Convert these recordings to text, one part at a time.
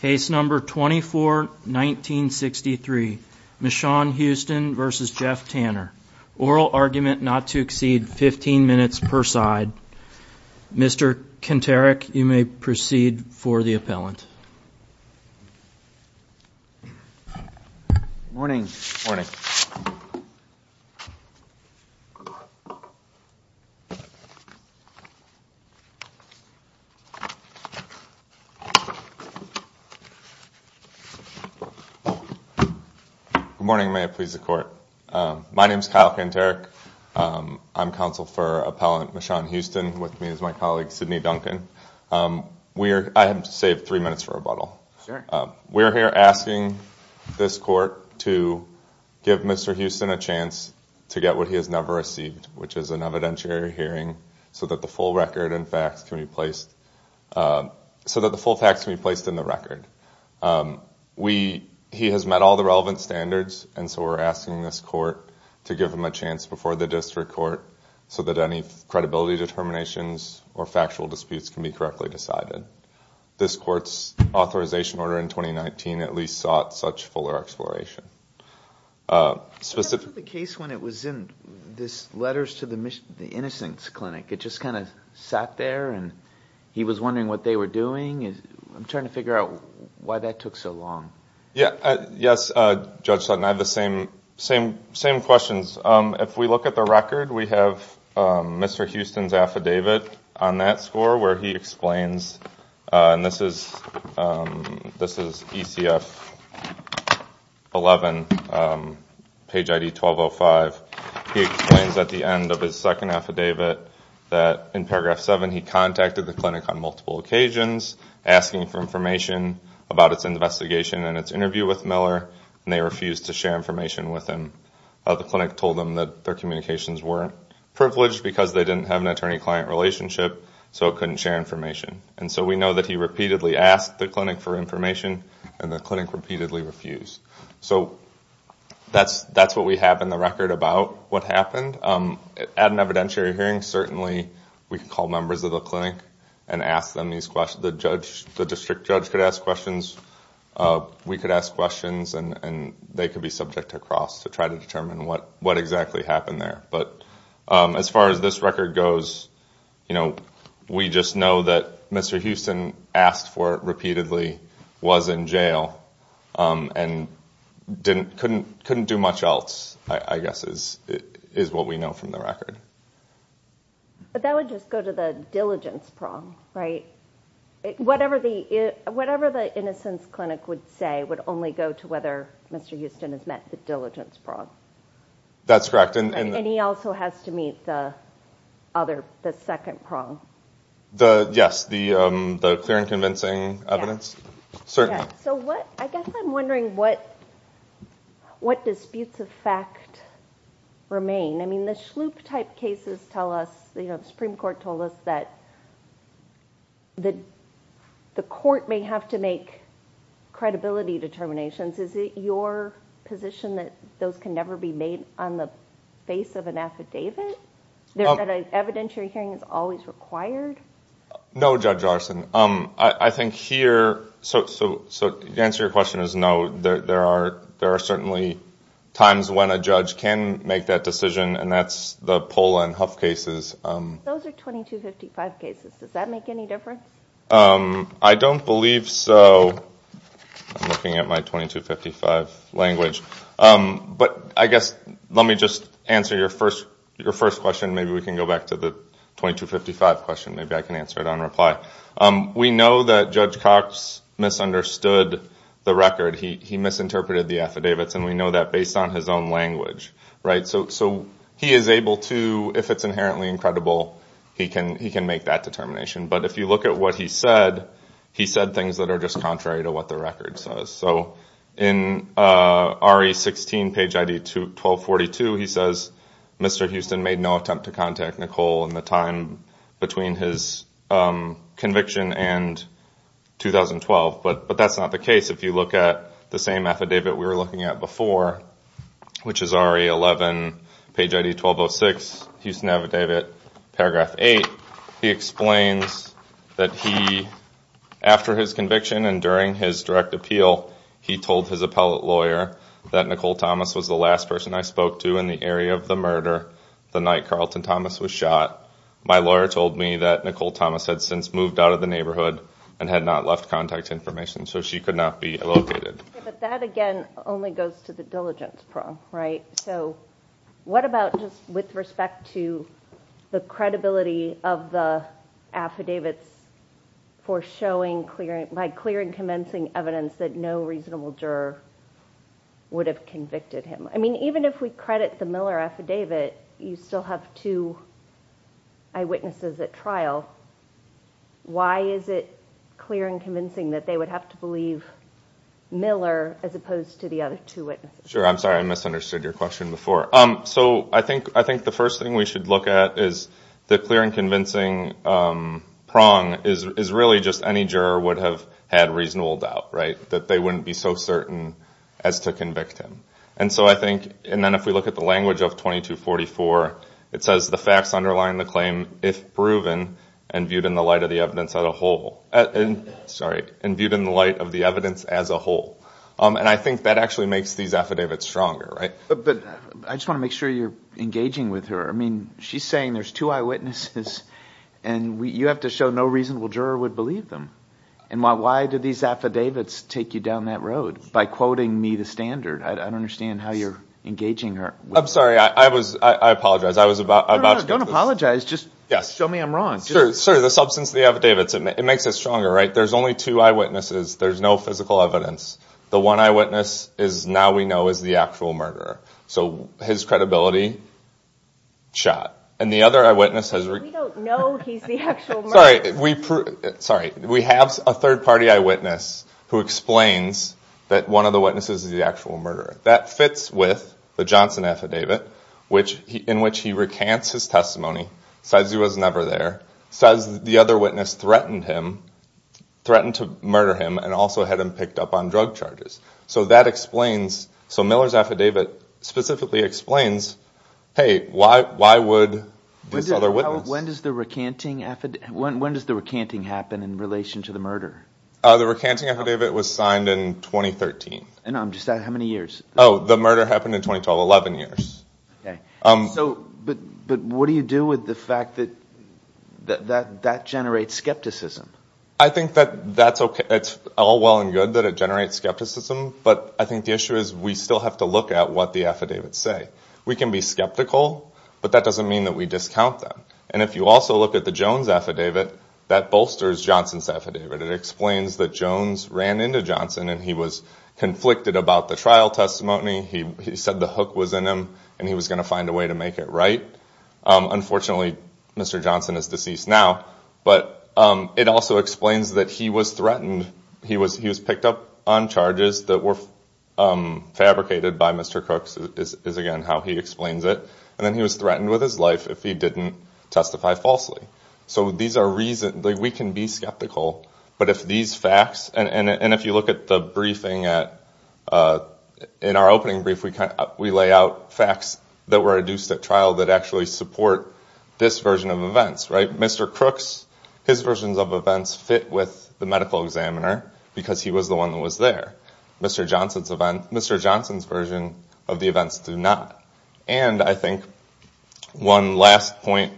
case number 24 1963 Michonne Houston versus Jeff Tanner oral argument not to exceed 15 minutes per side mr. Kent Eric you may proceed for the morning may I please the court my name is Kyle Kent Eric I'm counsel for appellant Michonne Houston with me as my colleague Sydney Duncan we're I have saved three minutes for a bottle we're here asking this court to give mr. Houston a chance to get what he has never received which is an evidentiary hearing so that the full record and facts can be placed so that the full tax can be placed in the record we he has met all the relevant standards and so we're asking this court to give him a chance before the district court so that any credibility determinations or factual disputes can be correctly decided this courts authorization order in 2019 at least sought such fuller exploration specific the case when it was in this letters to the mission the innocence clinic it just kind of sat there and he was wondering what they were doing is I'm trying to figure out why that took so long yeah yes judge Sutton I have the same same same questions if we look at the record we have mr. Houston's affidavit on that score where he explains and this is this is ECF 11 page ID 1205 he explains at the end of his second affidavit that in seven he contacted the clinic on multiple occasions asking for information about its investigation and its interview with Miller and they refused to share information with him the clinic told them that their communications weren't privileged because they didn't have an attorney client relationship so it couldn't share information and so we know that he repeatedly asked the clinic for information and the clinic repeatedly refused so that's that's what we have in the record about what happened at an hearing certainly we call members of the clinic and ask them these questions the judge the district judge could ask questions we could ask questions and they could be subject to cross to try to determine what what exactly happened there but as far as this record goes you know we just know that mr. Houston asked for it repeatedly was in jail and didn't couldn't couldn't do much else I guess is what we know from the record but that would just go to the diligence prong right whatever the whatever the innocence clinic would say would only go to whether mr. Houston has met the diligence prong that's correct and he also has to meet the other the second prong the yes the the clear and convincing evidence certainly so what I guess I'm wondering what what disputes of fact remain I mean the sloop type cases tell us you know the Supreme Court told us that that the court may have to make credibility determinations is it your position that those can never be made on the face of an affidavit there evidentiary hearing is always required no judge arson um I think here so so so the answer your question is no there are there are certainly times when a judge can make that decision and that's the Poland Huff cases I don't believe so I'm looking at my 2255 language but I guess let me just answer your first your first question maybe we can go back to the 2255 question maybe I can answer it reply we know that judge Cox misunderstood the record he misinterpreted the affidavits and we know that based on his own language right so so he is able to if it's inherently incredible he can he can make that determination but if you look at what he said he said things that are just contrary to what the record says so in re16 page ID to 1242 he says mr. Houston made no attempt to Nicole in the time between his conviction and 2012 but but that's not the case if you look at the same affidavit we were looking at before which is re11 page ID 1206 Houston affidavit paragraph 8 he explains that he after his conviction and during his direct appeal he told his appellate lawyer that Nicole Thomas was the last person I spoke to in the area of the was shot my lawyer told me that Nicole Thomas had since moved out of the neighborhood and had not left contact information so she could not be located but that again only goes to the diligence problem right so what about just with respect to the credibility of the affidavits for showing clearing by clearing commencing evidence that no reasonable juror would have convicted him I mean even if we credit the Miller affidavit you still have to I witnesses at trial why is it clear and convincing that they would have to believe Miller as opposed to the other two it sure I'm sorry I misunderstood your question before um so I think I think the first thing we should look at is the clear and convincing prong is really just any juror would have had reasonable doubt that they wouldn't be so certain as to convict him and so I think and then if we look at the language of 2244 it says the facts underlying the claim if proven and viewed in the light of the evidence as a whole and sorry and viewed in the light of the evidence as a whole and I think that actually makes these affidavits stronger right but I just want to make sure you're engaging with her I mean she's saying there's two eyewitnesses and we you have to show no reasonable juror would believe them and why why did these affidavits take you down that road by quoting me the standard I don't understand how you're engaging her I'm sorry I was I apologize I was about don't apologize just yes show me I'm wrong sure sir the substance of the affidavits it makes it stronger right there's only two eyewitnesses there's no physical evidence the one eyewitness is now we know is the actual murderer so his credibility shot and the eyewitnesses sorry we sorry we have a third party eyewitness who explains that one of the witnesses is the actual murderer that fits with the Johnson affidavit which in which he recants his testimony says he was never there says the other witness threatened him threatened to murder him and also had him picked up on drug charges so that explains so Miller's affidavit specifically explains hey why why would this other witness when does the recanting effort when when does the recanting happen in relation to the murder the recanting affidavit was signed in 2013 and I'm just that how many years oh the murder happened in 2012 11 years okay um so but but what do you do with the fact that that that generates skepticism I think that that's okay it's all well and good that it generates skepticism but I think the is we still have to look at what the affidavit say we can be skeptical but that doesn't mean that we discount them and if you also look at the Jones affidavit that bolsters Johnson's affidavit it explains that Jones ran into Johnson and he was conflicted about the trial testimony he said the hook was in him and he was going to find a way to make it right unfortunately mr. Johnson is deceased now but it also explains that he was threatened he was he was fabricated by mr. Crooks is again how he explains it and then he was threatened with his life if he didn't testify falsely so these are reason that we can be skeptical but if these facts and and if you look at the briefing at in our opening brief we kind of we lay out facts that were reduced at trial that actually support this version of events right mr. Crooks his versions of events fit with the medical examiner because he was the one that was there mr. Johnson's event mr. Johnson's version of the events do not and I think one last point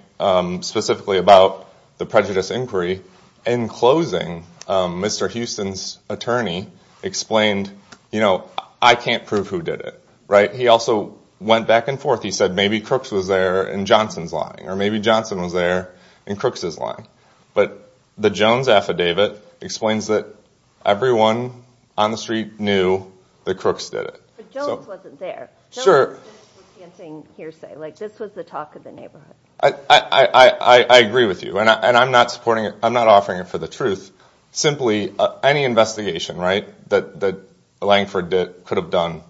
specifically about the prejudice inquiry in closing mr. Houston's attorney explained you know I can't prove who did it right he also went back and forth he said maybe Crooks was there and Johnson's lying or maybe Johnson was there and Crooks is lying but the Jones affidavit explains that everyone on the street knew the Crooks did it I agree with you and I'm not supporting it I'm not offering it for the truth simply any investigation right that the Langford did could have done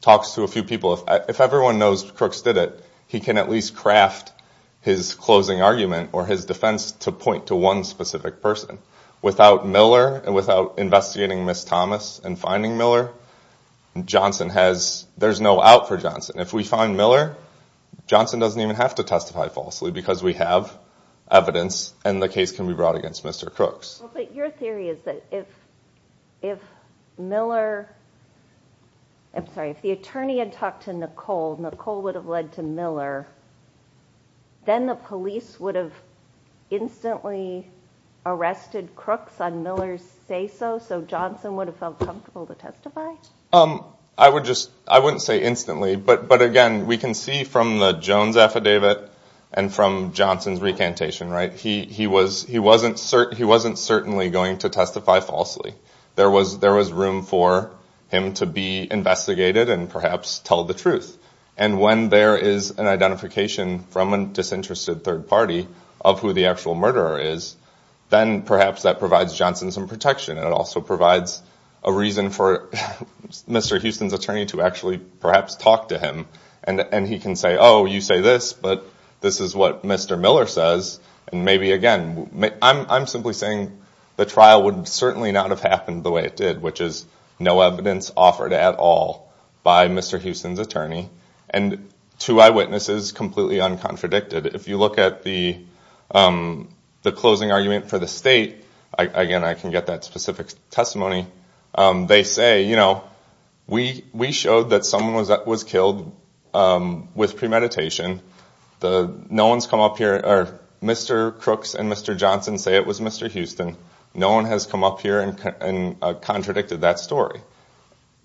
talks to a few people if everyone knows Crooks did it he can at least craft his closing argument or his defense to point to one specific person without Miller and without investigating miss Thomas and finding Miller Johnson has there's no out for Johnson if we find Miller Johnson doesn't even have to testify falsely because we have evidence and the case can be brought against mr. Crooks your theory is that if if Miller I'm sorry if the attorney had talked to Nicole Nicole would have led to Miller then the police would have instantly arrested Crooks on Miller's say so so Johnson would have felt comfortable to testify um I would just I wouldn't say instantly but but again we can see from the Jones affidavit and from Johnson's recantation right he he was he wasn't certain he wasn't certainly going to testify falsely there was there was room for him to be investigated and perhaps tell the truth and when there is an identification from an disinterested third party of who the actual murderer is then perhaps that provides Johnson's and protection it also provides a reason for mr. Houston's attorney to actually perhaps talk to him and and he can say oh you say this but this is what mr. Miller says and maybe again I'm simply saying the trial would certainly not have happened the way it did which is no evidence offered at all by mr. Houston's attorney and two eyewitnesses completely uncontradicted if you look at the the closing argument for the state again I can get that specific testimony they say you know we we showed that someone was that was killed with premeditation the no one's come up here or mr. Crooks and mr. Johnson say it was mr. Houston no one has come up here and contradicted that story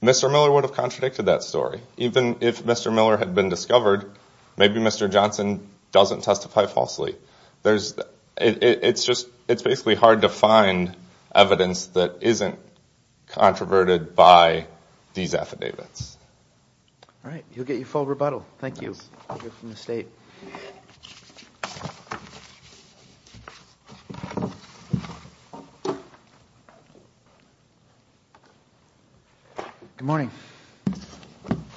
mr. Miller would have contradicted that story even if mr. Miller had been discovered maybe mr. Johnson doesn't testify falsely there's it's just it's basically hard to find evidence that isn't controverted by these affidavits all right you'll get good morning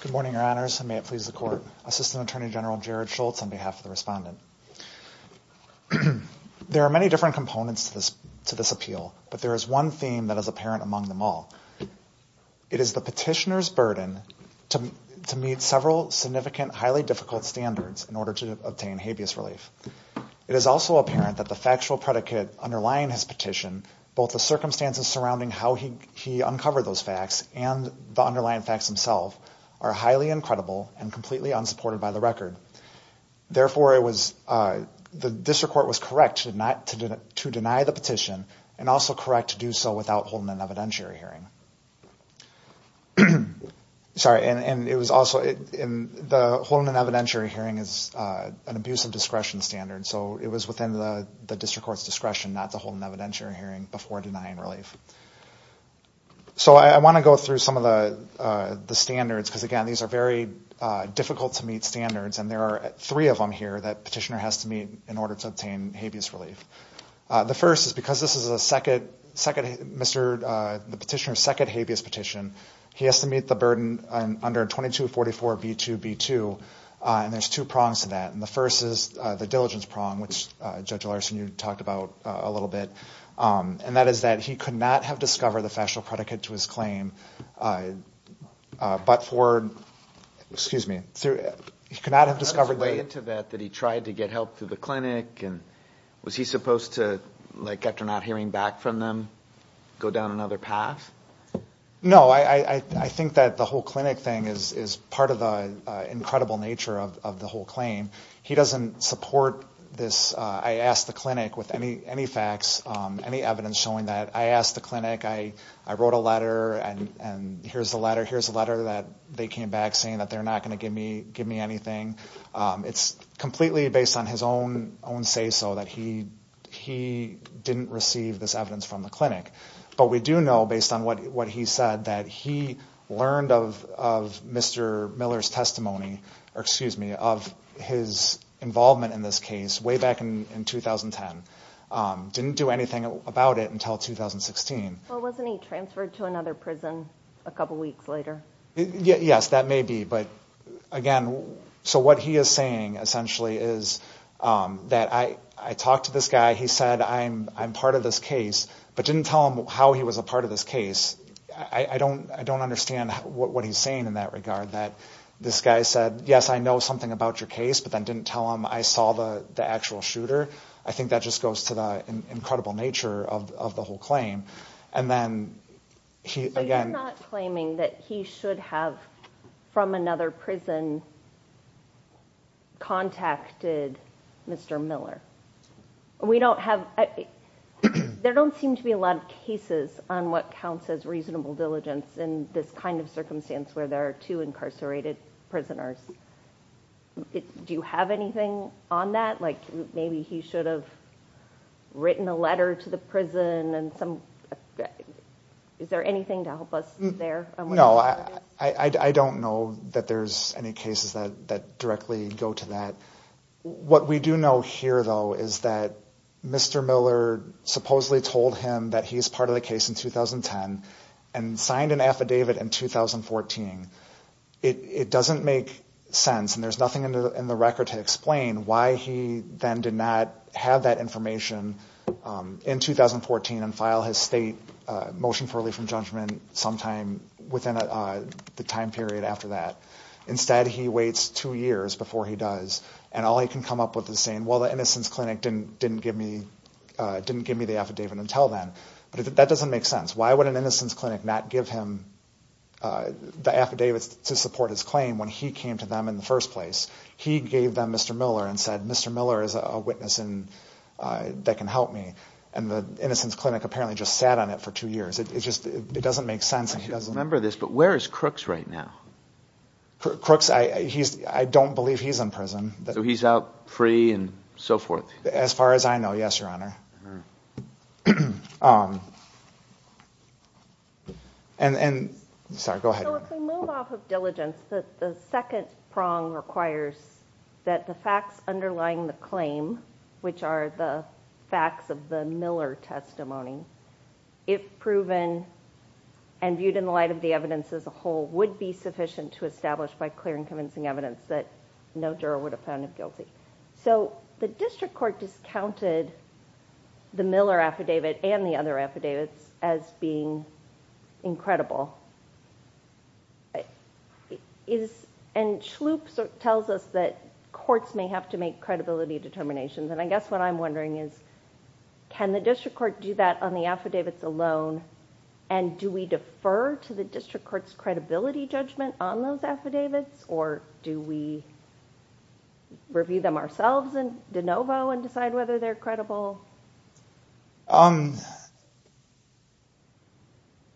good morning your honors and may it please the court assistant attorney general Jared Schultz on behalf of the respondent there are many different components to this to this appeal but there is one theme that is apparent among them all it is the petitioner's burden to meet several significant highly difficult standards in order to obtain habeas relief it is also apparent that the factual predicate underlying his petition both the circumstances surrounding how he he uncovered those facts and the underlying facts himself are highly incredible and completely unsupported by the record therefore it was the district court was correct to not to deny the petition and also correct to do so without holding an evidentiary hearing sorry and it was also in the holding an evidentiary hearing is an abuse of discretion standard so it was within the district court's discretion not to hold an evidentiary hearing before denying relief so I want to go through some of the the standards because again these are very difficult to meet standards and there are three of them here that petitioner has to meet in order to obtain habeas relief the first is because this is a second second mr. the petitioner second habeas petition he has to meet the burden under 2244 b2 b2 and there's two prongs to that and the first is the diligence prong which judge Larson you talked about a little bit and that is that he could not have discovered the factual predicate to his claim but for excuse me through it he could not have discovered late into that that he tried to get help through the clinic and was he supposed to like after not hearing back from them go down another path no I I think that the whole clinic thing is is part of the incredible nature of the whole claim he doesn't support this I asked the clinic with any any facts any evidence showing that I asked the clinic I I wrote a letter and and here's the letter here's a letter that they came back saying that they're not going to give me give me anything it's completely based on his own own say so that he he didn't receive this evidence from the clinic but we do know based on what what he said that he learned of of mr. Miller's testimony excuse me of his involvement in this case way back in in 2010 didn't do anything about it until 2016 a couple weeks later yes that may be but again so what he is saying essentially is that I I talked to this guy he said I'm I'm part of this case but didn't tell him how he was a part of this case I I don't I don't understand what he's saying in that regard that this guy said yes I know something about your case but then didn't tell him I saw the the actual shooter I think that just goes to the incredible nature of the whole claim and then he again claiming that he should have from another prison contacted mr. Miller we don't have there don't seem to be a lot of cases on what counts as reasonable diligence in this kind of circumstance where there are two incarcerated prisoners do you have anything on that like maybe he should have written a letter to the prison and some is there anything to help us there no I I don't know that there's any cases that that directly go to that what we do know here though is that mr. Miller supposedly told him that he's part of the case in 2010 and signed an affidavit in 2014 it doesn't make sense and there's nothing in the record to explain why he then did not have that information in 2014 and file his state motion for relief from judgment sometime within the time period after that instead he waits two years before he does and all I can come up with the same well the innocence clinic didn't didn't give me didn't give me the affidavit until then but that doesn't make sense why would an innocence clinic not give him the affidavits to support his claim when he came to them in the first place he gave them mr. Miller and said mr. Miller is a witness and that can help me and the innocence clinic apparently just sat on it for two years it's just it doesn't make sense he doesn't remember this but where is crooks right now crooks I he's I don't believe he's in prison so he's out free and so forth as far as I know yes your honor and and sorry go ahead diligence the second prong requires that the facts underlying the claim which are the facts of the Miller testimony if proven and viewed in the light of the evidence as a whole would be sufficient to establish by clear and convincing evidence that no juror would have found him guilty so the district court discounted the Miller affidavit and the other affidavits as being incredible it is and schloop tells us that courts may have to make credibility determinations and I guess what I'm wondering is can the district court do that on the alone and do we defer to the district court's credibility judgment on those affidavits or do we review them ourselves and de novo and decide whether they're credible um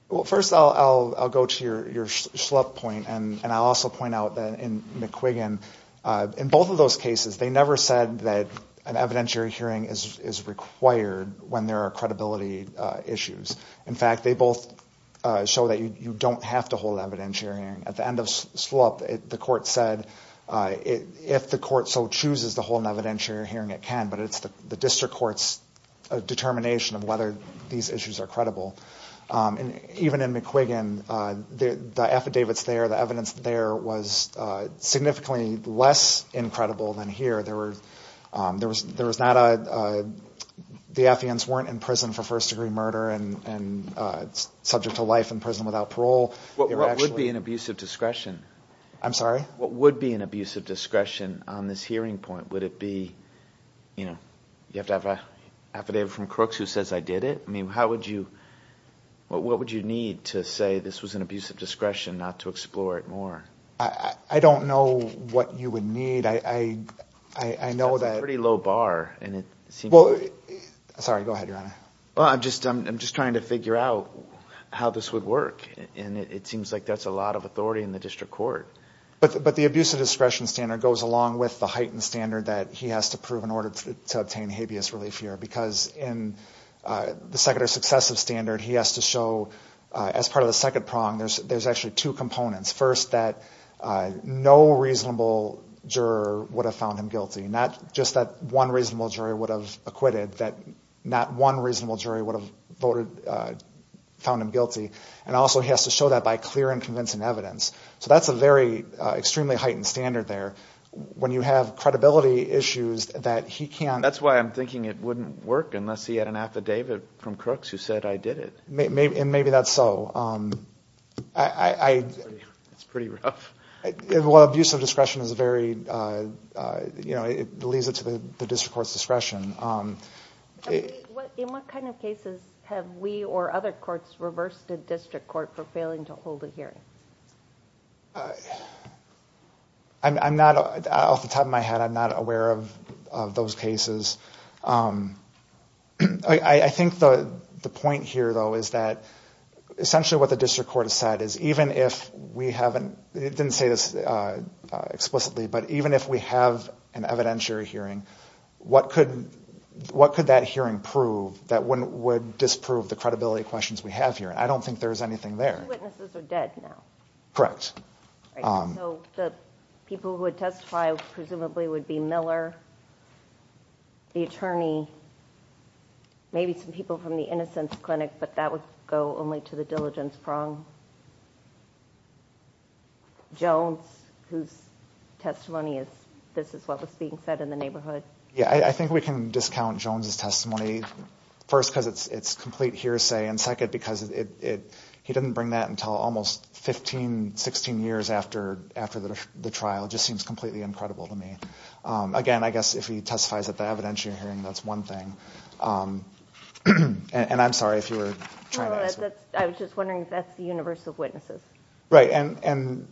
well first I'll go to your schlub point and and I'll also point out that in McQuiggan in both of those cases they never said that an issue in fact they both show that you don't have to hold evidentiary at the end of slope the court said if the court so chooses the whole evidentiary hearing it can but it's the district courts a determination of whether these issues are credible and even in McQuiggan the affidavits there the evidence there was significantly less incredible than here there were there was there was not a the atheans weren't in prison for first-degree murder and and subject to life in prison without parole what would be an abusive discretion I'm sorry what would be an abusive discretion on this hearing point would it be you know you have to have a affidavit from Crooks who says I did it I mean how would you what what would you need to say this was an abusive discretion not to explore it more I I don't know what you would need I I I know that pretty low bar and it sorry go ahead your honor well I'm just I'm just trying to figure out how this would work and it seems like that's a lot of authority in the district court but but the abusive discretion standard goes along with the heightened standard that he has to prove in order to obtain habeas relief here because in the second or successive standard he has to show as part of the second prong there's there's actually two components first that no reasonable juror would have guilty not just that one reasonable jury would have acquitted that not one reasonable jury would have voted found him guilty and also he has to show that by clear and convincing evidence so that's a very extremely heightened standard there when you have credibility issues that he can that's why I'm thinking it wouldn't work unless he had an affidavit from Crooks who said I did it maybe and maybe that's so I it's pretty rough well abusive discretion is very you know it leads it to the district court's discretion in what kind of cases have we or other courts reversed a district court for failing to hold a hearing I'm not off the top of my head I'm not aware of those cases I think the the point here though is that essentially what the district court has is even if we haven't it didn't say this explicitly but even if we have an evidentiary hearing what could what could that hearing prove that wouldn't would disprove the credibility questions we have here I don't think there's anything there correct people would testify presumably would be Miller the attorney maybe some people from the innocence clinic but that would go only to the diligence prong Jones whose testimony is this is what was being said in the neighborhood yeah I think we can discount Jones's testimony first because it's it's complete hearsay and second because it he didn't bring that until almost 15 16 years after after the trial just seems completely incredible to me again I guess if he testifies at the evidentiary hearing that's one thing and I'm sorry if you were I was just wondering if that's the universe of witnesses right and and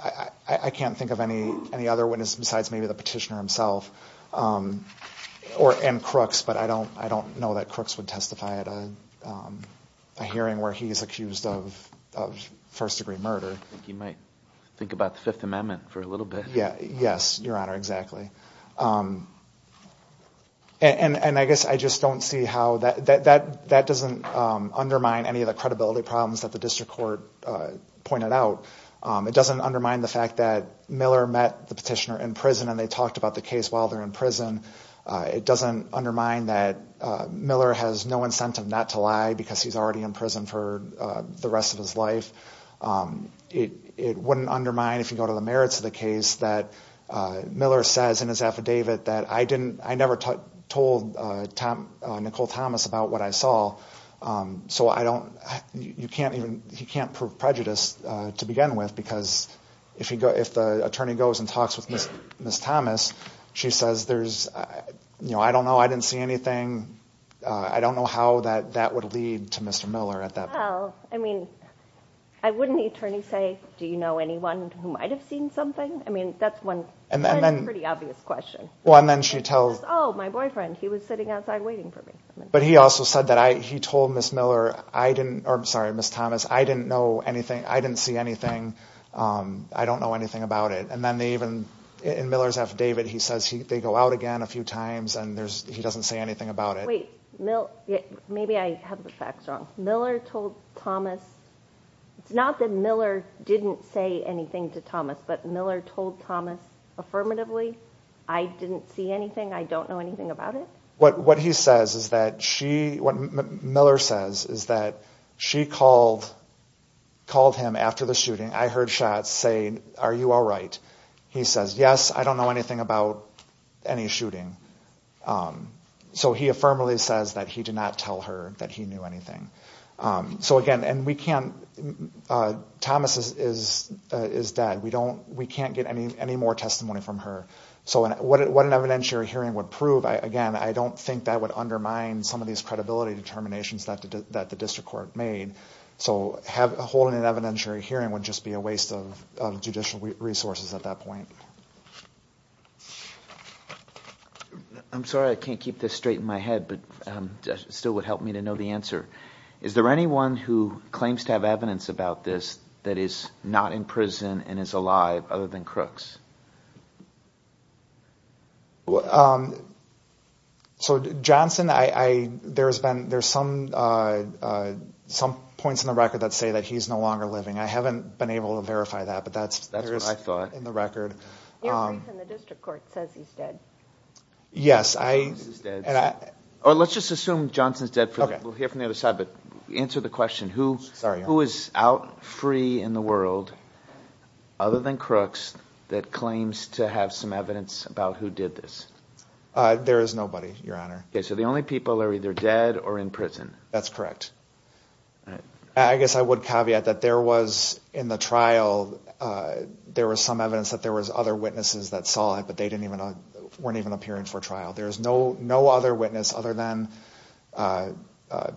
I can't think of any any other witness besides maybe the petitioner himself or and Crooks but I don't I don't know that Crooks would testify at a hearing where he is accused of first-degree murder you might think about the Fifth Amendment for a little bit yeah yes your honor exactly and and I guess I just don't see how that that that doesn't undermine any of the credibility problems that the district court pointed out it doesn't undermine the fact that Miller met the petitioner in prison and they talked about the case while they're in prison it doesn't undermine that Miller has no incentive not to lie because he's already in prison for the rest of his life it wouldn't undermine if you go to the merits of the case that Miller says in David that I didn't I never told Tom Nicole Thomas about what I saw so I don't you can't even you can't prove prejudice to begin with because if you go if the attorney goes and talks with Miss Thomas she says there's you know I don't know I didn't see anything I don't know how that that would lead to mr. Miller at that well I mean I wouldn't the attorney say do you know anyone who might have seen something I mean that's one and then pretty obvious question well and then she tells oh my boyfriend he was sitting outside waiting for me but he also said that I he told miss Miller I didn't I'm sorry miss Thomas I didn't know anything I didn't see anything I don't know anything about it and then they even in Miller's affidavit he says he they go out again a few times and there's he doesn't say anything about it wait no yeah maybe I have the Miller told Thomas it's not that Miller didn't say anything to Thomas but Miller told Thomas affirmatively I didn't see anything I don't know anything about it what what he says is that she what Miller says is that she called called him after the shooting I heard shots saying are you all right he says yes I don't know anything about any shooting so he affirmatively says that he did not tell her that he knew anything so again and we can't Thomas's is is dead we don't we can't get any any more testimony from her so and what an evidentiary hearing would prove I again I don't think that would undermine some of these credibility determinations that the district court made so have holding an evidentiary hearing would just be a waste of judicial resources at that point I'm sorry I can't keep this straight in my head but still would help me to know the answer is there anyone who claims to have evidence about this that is not in prison and is alive other than crooks so Johnson I there's been there's some some points in the record that say that he's no longer living I haven't been able to verify that but that's that's what I thought in the record yes I or let's just assume Johnson's dead for the other side but answer the question who sorry who is out free in the world other than crooks that claims to have some evidence about who did this there is nobody your honor okay so the only people are either dead or in prison that's correct I guess I would caveat that there was in the trial there was some evidence that there was other witnesses that saw it but they didn't even weren't even appearing for trial there's no no other witness other than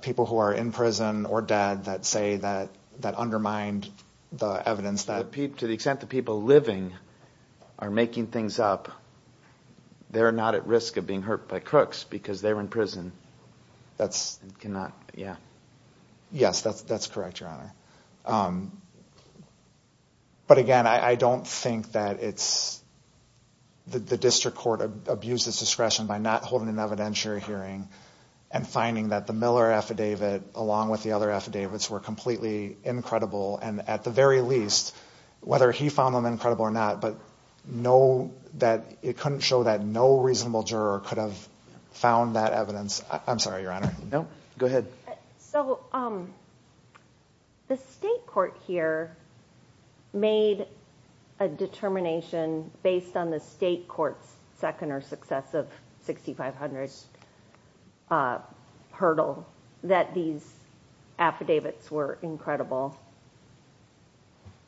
people who are in prison or dead that say that that undermined the evidence that Pete to the extent the people living are making things up they're not at risk of being hurt by crooks because they were in prison that's cannot yeah yes that's that's correct your honor but again I don't think that it's the district court abuses discretion by not holding an evidentiary hearing and finding that the Miller affidavit along with the other affidavits were completely incredible and at the very least whether he found them incredible or not but know that it couldn't show that no reasonable juror could have found that evidence I'm sorry your honor no go ahead so um the state court here made a determination based on the state courts second or successive 6500s hurdle that these affidavits were incredible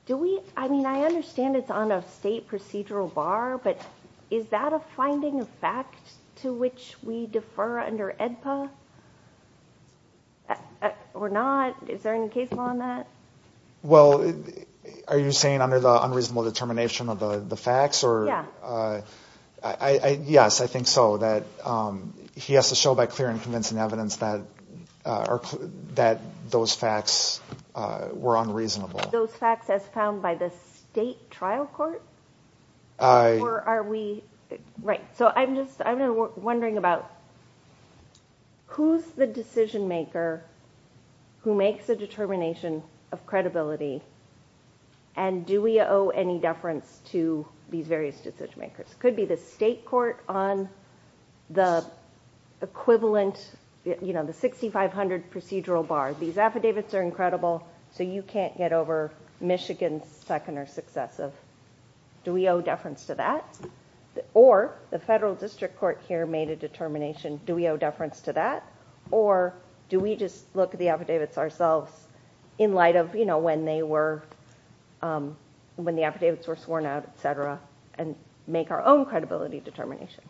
do we I mean I understand it's on a state procedural bar but is that a finding of fact to which we defer under EDPA or not is there any case law on that well are you saying under the unreasonable determination of the the facts or yeah I yes I think so that he has to show by clear and convincing evidence that are that those facts were unreasonable those facts as by the state trial court or are we right so I'm just I'm wondering about who's the decision maker who makes a determination of credibility and do we owe any deference to these various decision makers could be the state court on the equivalent you know the 6500 procedural bar these affidavits are so you can't get over Michigan's second or successive do we owe deference to that or the federal district court here made a determination do we owe deference to that or do we just look at the affidavits ourselves in light of you know when they were when the affidavits were sworn out etc and make our own credibility determination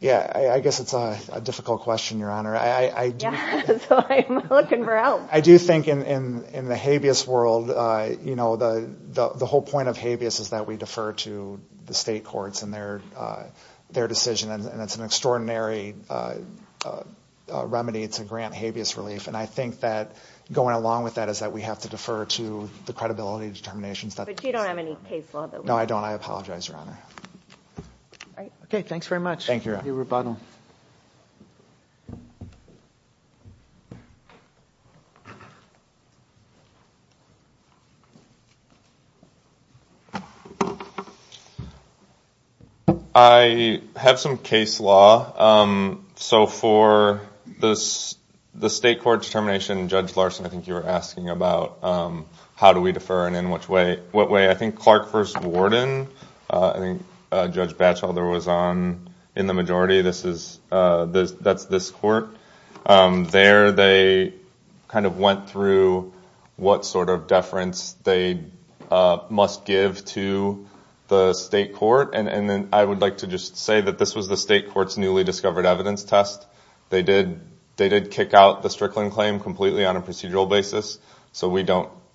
yeah I guess it's a difficult question your honor I I do think in in the habeas world you know the the whole point of habeas is that we defer to the state courts and their their decision and it's an extraordinary remedy it's a grant habeas relief and I think that going along with that is that we have to defer to the credibility determinations that you don't have any case law that no I don't I apologize your honor okay thanks very much thank you I have some case law so for this the state court determination judge Larson I think you were asking about how do we defer and in which way I think Clark first Warden I think judge Batchelder was on in the majority this is this that's this court there they kind of went through what sort of deference they must give to the state court and and then I would like to just say that this was the state courts newly discovered evidence test they did they did kick out the Strickland claim completely on a procedural basis so we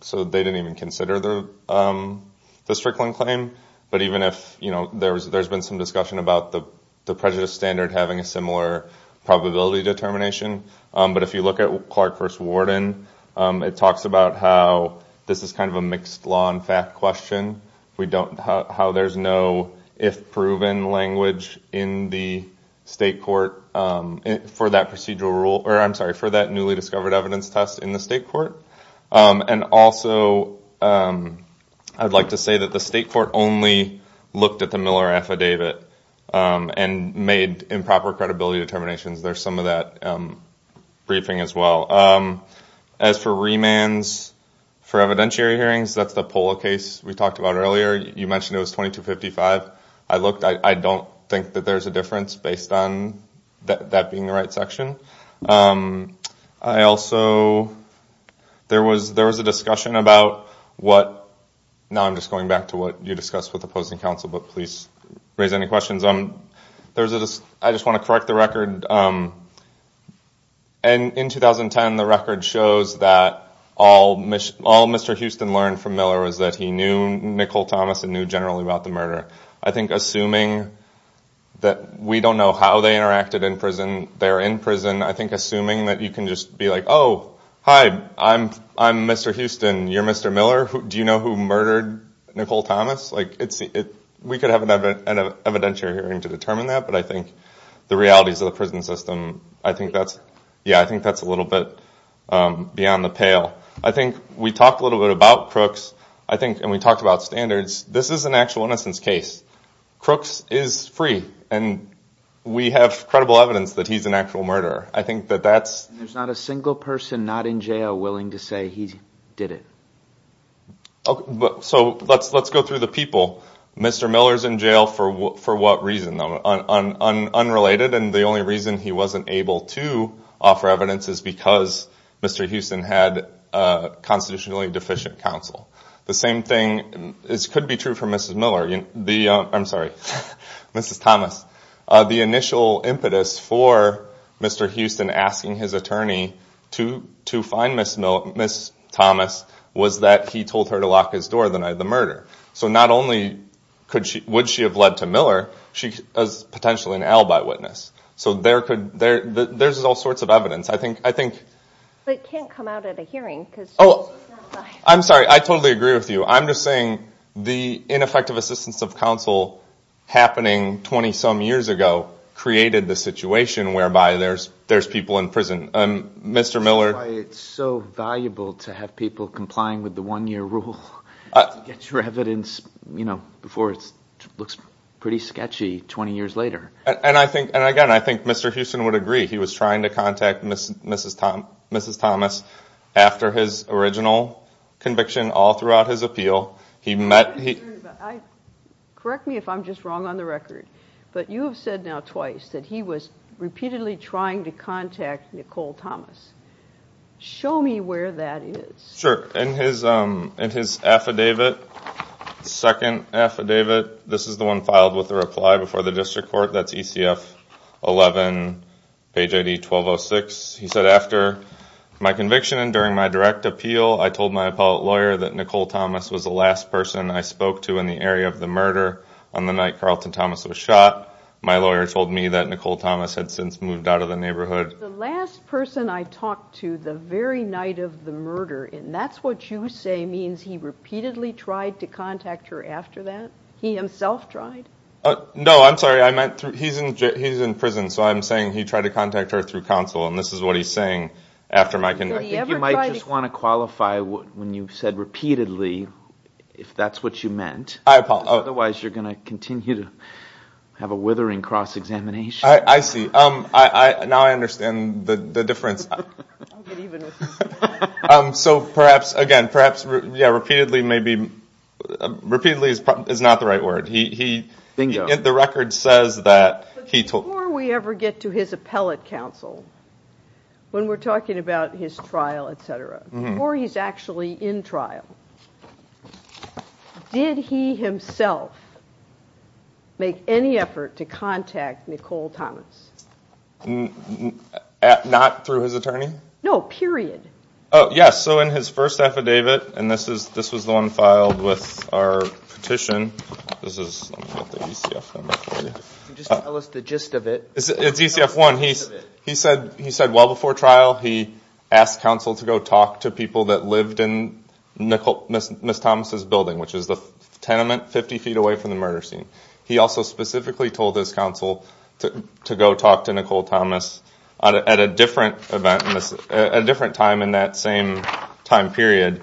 so they didn't even consider the Strickland claim but even if you know there's there's been some discussion about the prejudice standard having a similar probability determination but if you look at Clark first Warden it talks about how this is kind of a mixed law and fact question we don't how there's no if proven language in the state court for that procedural rule or I'm sorry for that newly discovered evidence test in the state court and also I'd like to say that the state court only looked at the Miller affidavit and made improper credibility determinations there's some of that briefing as well as for remands for evidentiary hearings that's the polo case we talked about earlier you mentioned it was 2255 I looked I don't think that there's a difference based on that being the right section I also there was there was a discussion about what now I'm just going back to what you discussed with opposing counsel but please raise any questions um there's a I just want to correct the record and in 2010 the record shows that all all mr. Houston learned from Miller was that he knew Nicole Thomas and knew generally about the murder I think assuming that we don't know how they interacted in prison there in prison I think assuming that you can just be like oh hi I'm I'm mr. Houston you're mr. Miller who do you know who murdered Nicole Thomas like it's it we could have an evidentiary hearing to determine that but I think the realities of the prison system I think that's yeah I think that's a little bit beyond the pale I think we talked a little bit about crooks I think and we talked about standards this is an actual innocence case crooks is free and we have credible evidence that he's an actual murderer I think that that's there's not a single person not in jail willing to say he did it but so let's let's go through the people mr. Miller's in jail for what for what reason though unrelated and the only reason he wasn't able to offer evidence is because mr. Houston had constitutionally deficient counsel the same thing is could be true for mrs. Miller the I'm sorry mrs. Thomas the initial impetus for mr. Houston asking his attorney to to find miss miss Thomas was that he told her to lock his door the night of the murder so not only could she would she have led to Miller she was potentially an alibi witness so there could there there's all sorts of evidence I think I think I'm sorry I totally agree with you I'm just saying the ineffective assistance of counsel happening 20 some years ago created the situation whereby there's there's people in prison mr. Miller it's so valuable to have people complying with the one-year rule get your evidence you know before it looks pretty sketchy 20 years later and I think and again I think mr. Houston would agree he was trying to contact miss mrs. Tom mrs. Thomas after his original conviction all throughout his appeal he met he correct me if I'm just wrong on the record but you have said now twice that he was repeatedly trying to contact Nicole Thomas show me where that is sure and his and his affidavit second affidavit this is the one filed with the reply before the district court that's DCF 11 page ID 1206 he said after my conviction and during my direct appeal I told my appellate lawyer that Nicole Thomas was the last person I spoke to in the area of the murder on the night Carlton Thomas was shot my lawyer told me that Nicole Thomas had since moved out of the neighborhood the last person I talked to the very night of the murder and that's what you say means he repeatedly tried to contact her after that he himself tried oh no I'm sorry I he's in prison so I'm saying he tried to contact her through counsel and this is what he's saying after my conviction you might just want to qualify what when you've said repeatedly if that's what you meant I apologize otherwise you're gonna continue to have a withering cross-examination I see um I now I understand the difference so perhaps again perhaps yeah repeatedly maybe repeatedly is not the right word he the record says that he told we ever get to his appellate counsel when we're talking about his trial etc or he's actually in trial did he himself make any effort to contact Nicole Thomas not through his attorney no period oh yes so in his first affidavit and this is this was the one filed with our petition he said he said well before trial he asked counsel to go talk to people that lived in Nicole miss miss Thomas's building which is the tenement 50 feet away from the murder scene he also specifically told his counsel to go talk to Nicole Thomas at a different event miss a different time in that same time period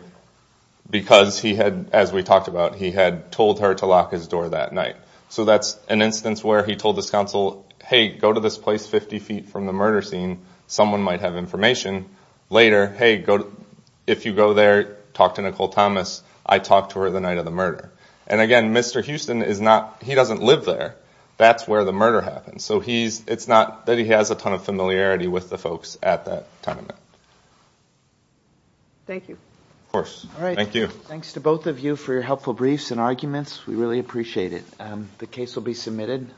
because he had as we talked about he had told her to lock his door that night so that's an instance where he told this counsel hey go to this place 50 feet from the murder scene someone might have information later hey go if you go there talk to Nicole Thomas I talked to her the night of the murder and again mr. Houston is not he doesn't live there that's where the murder happened so he's it's not that he has a ton of with the folks at that time thank you of course all right thank you thanks to both of you for your helpful briefs and arguments we really appreciate it the case will be submitted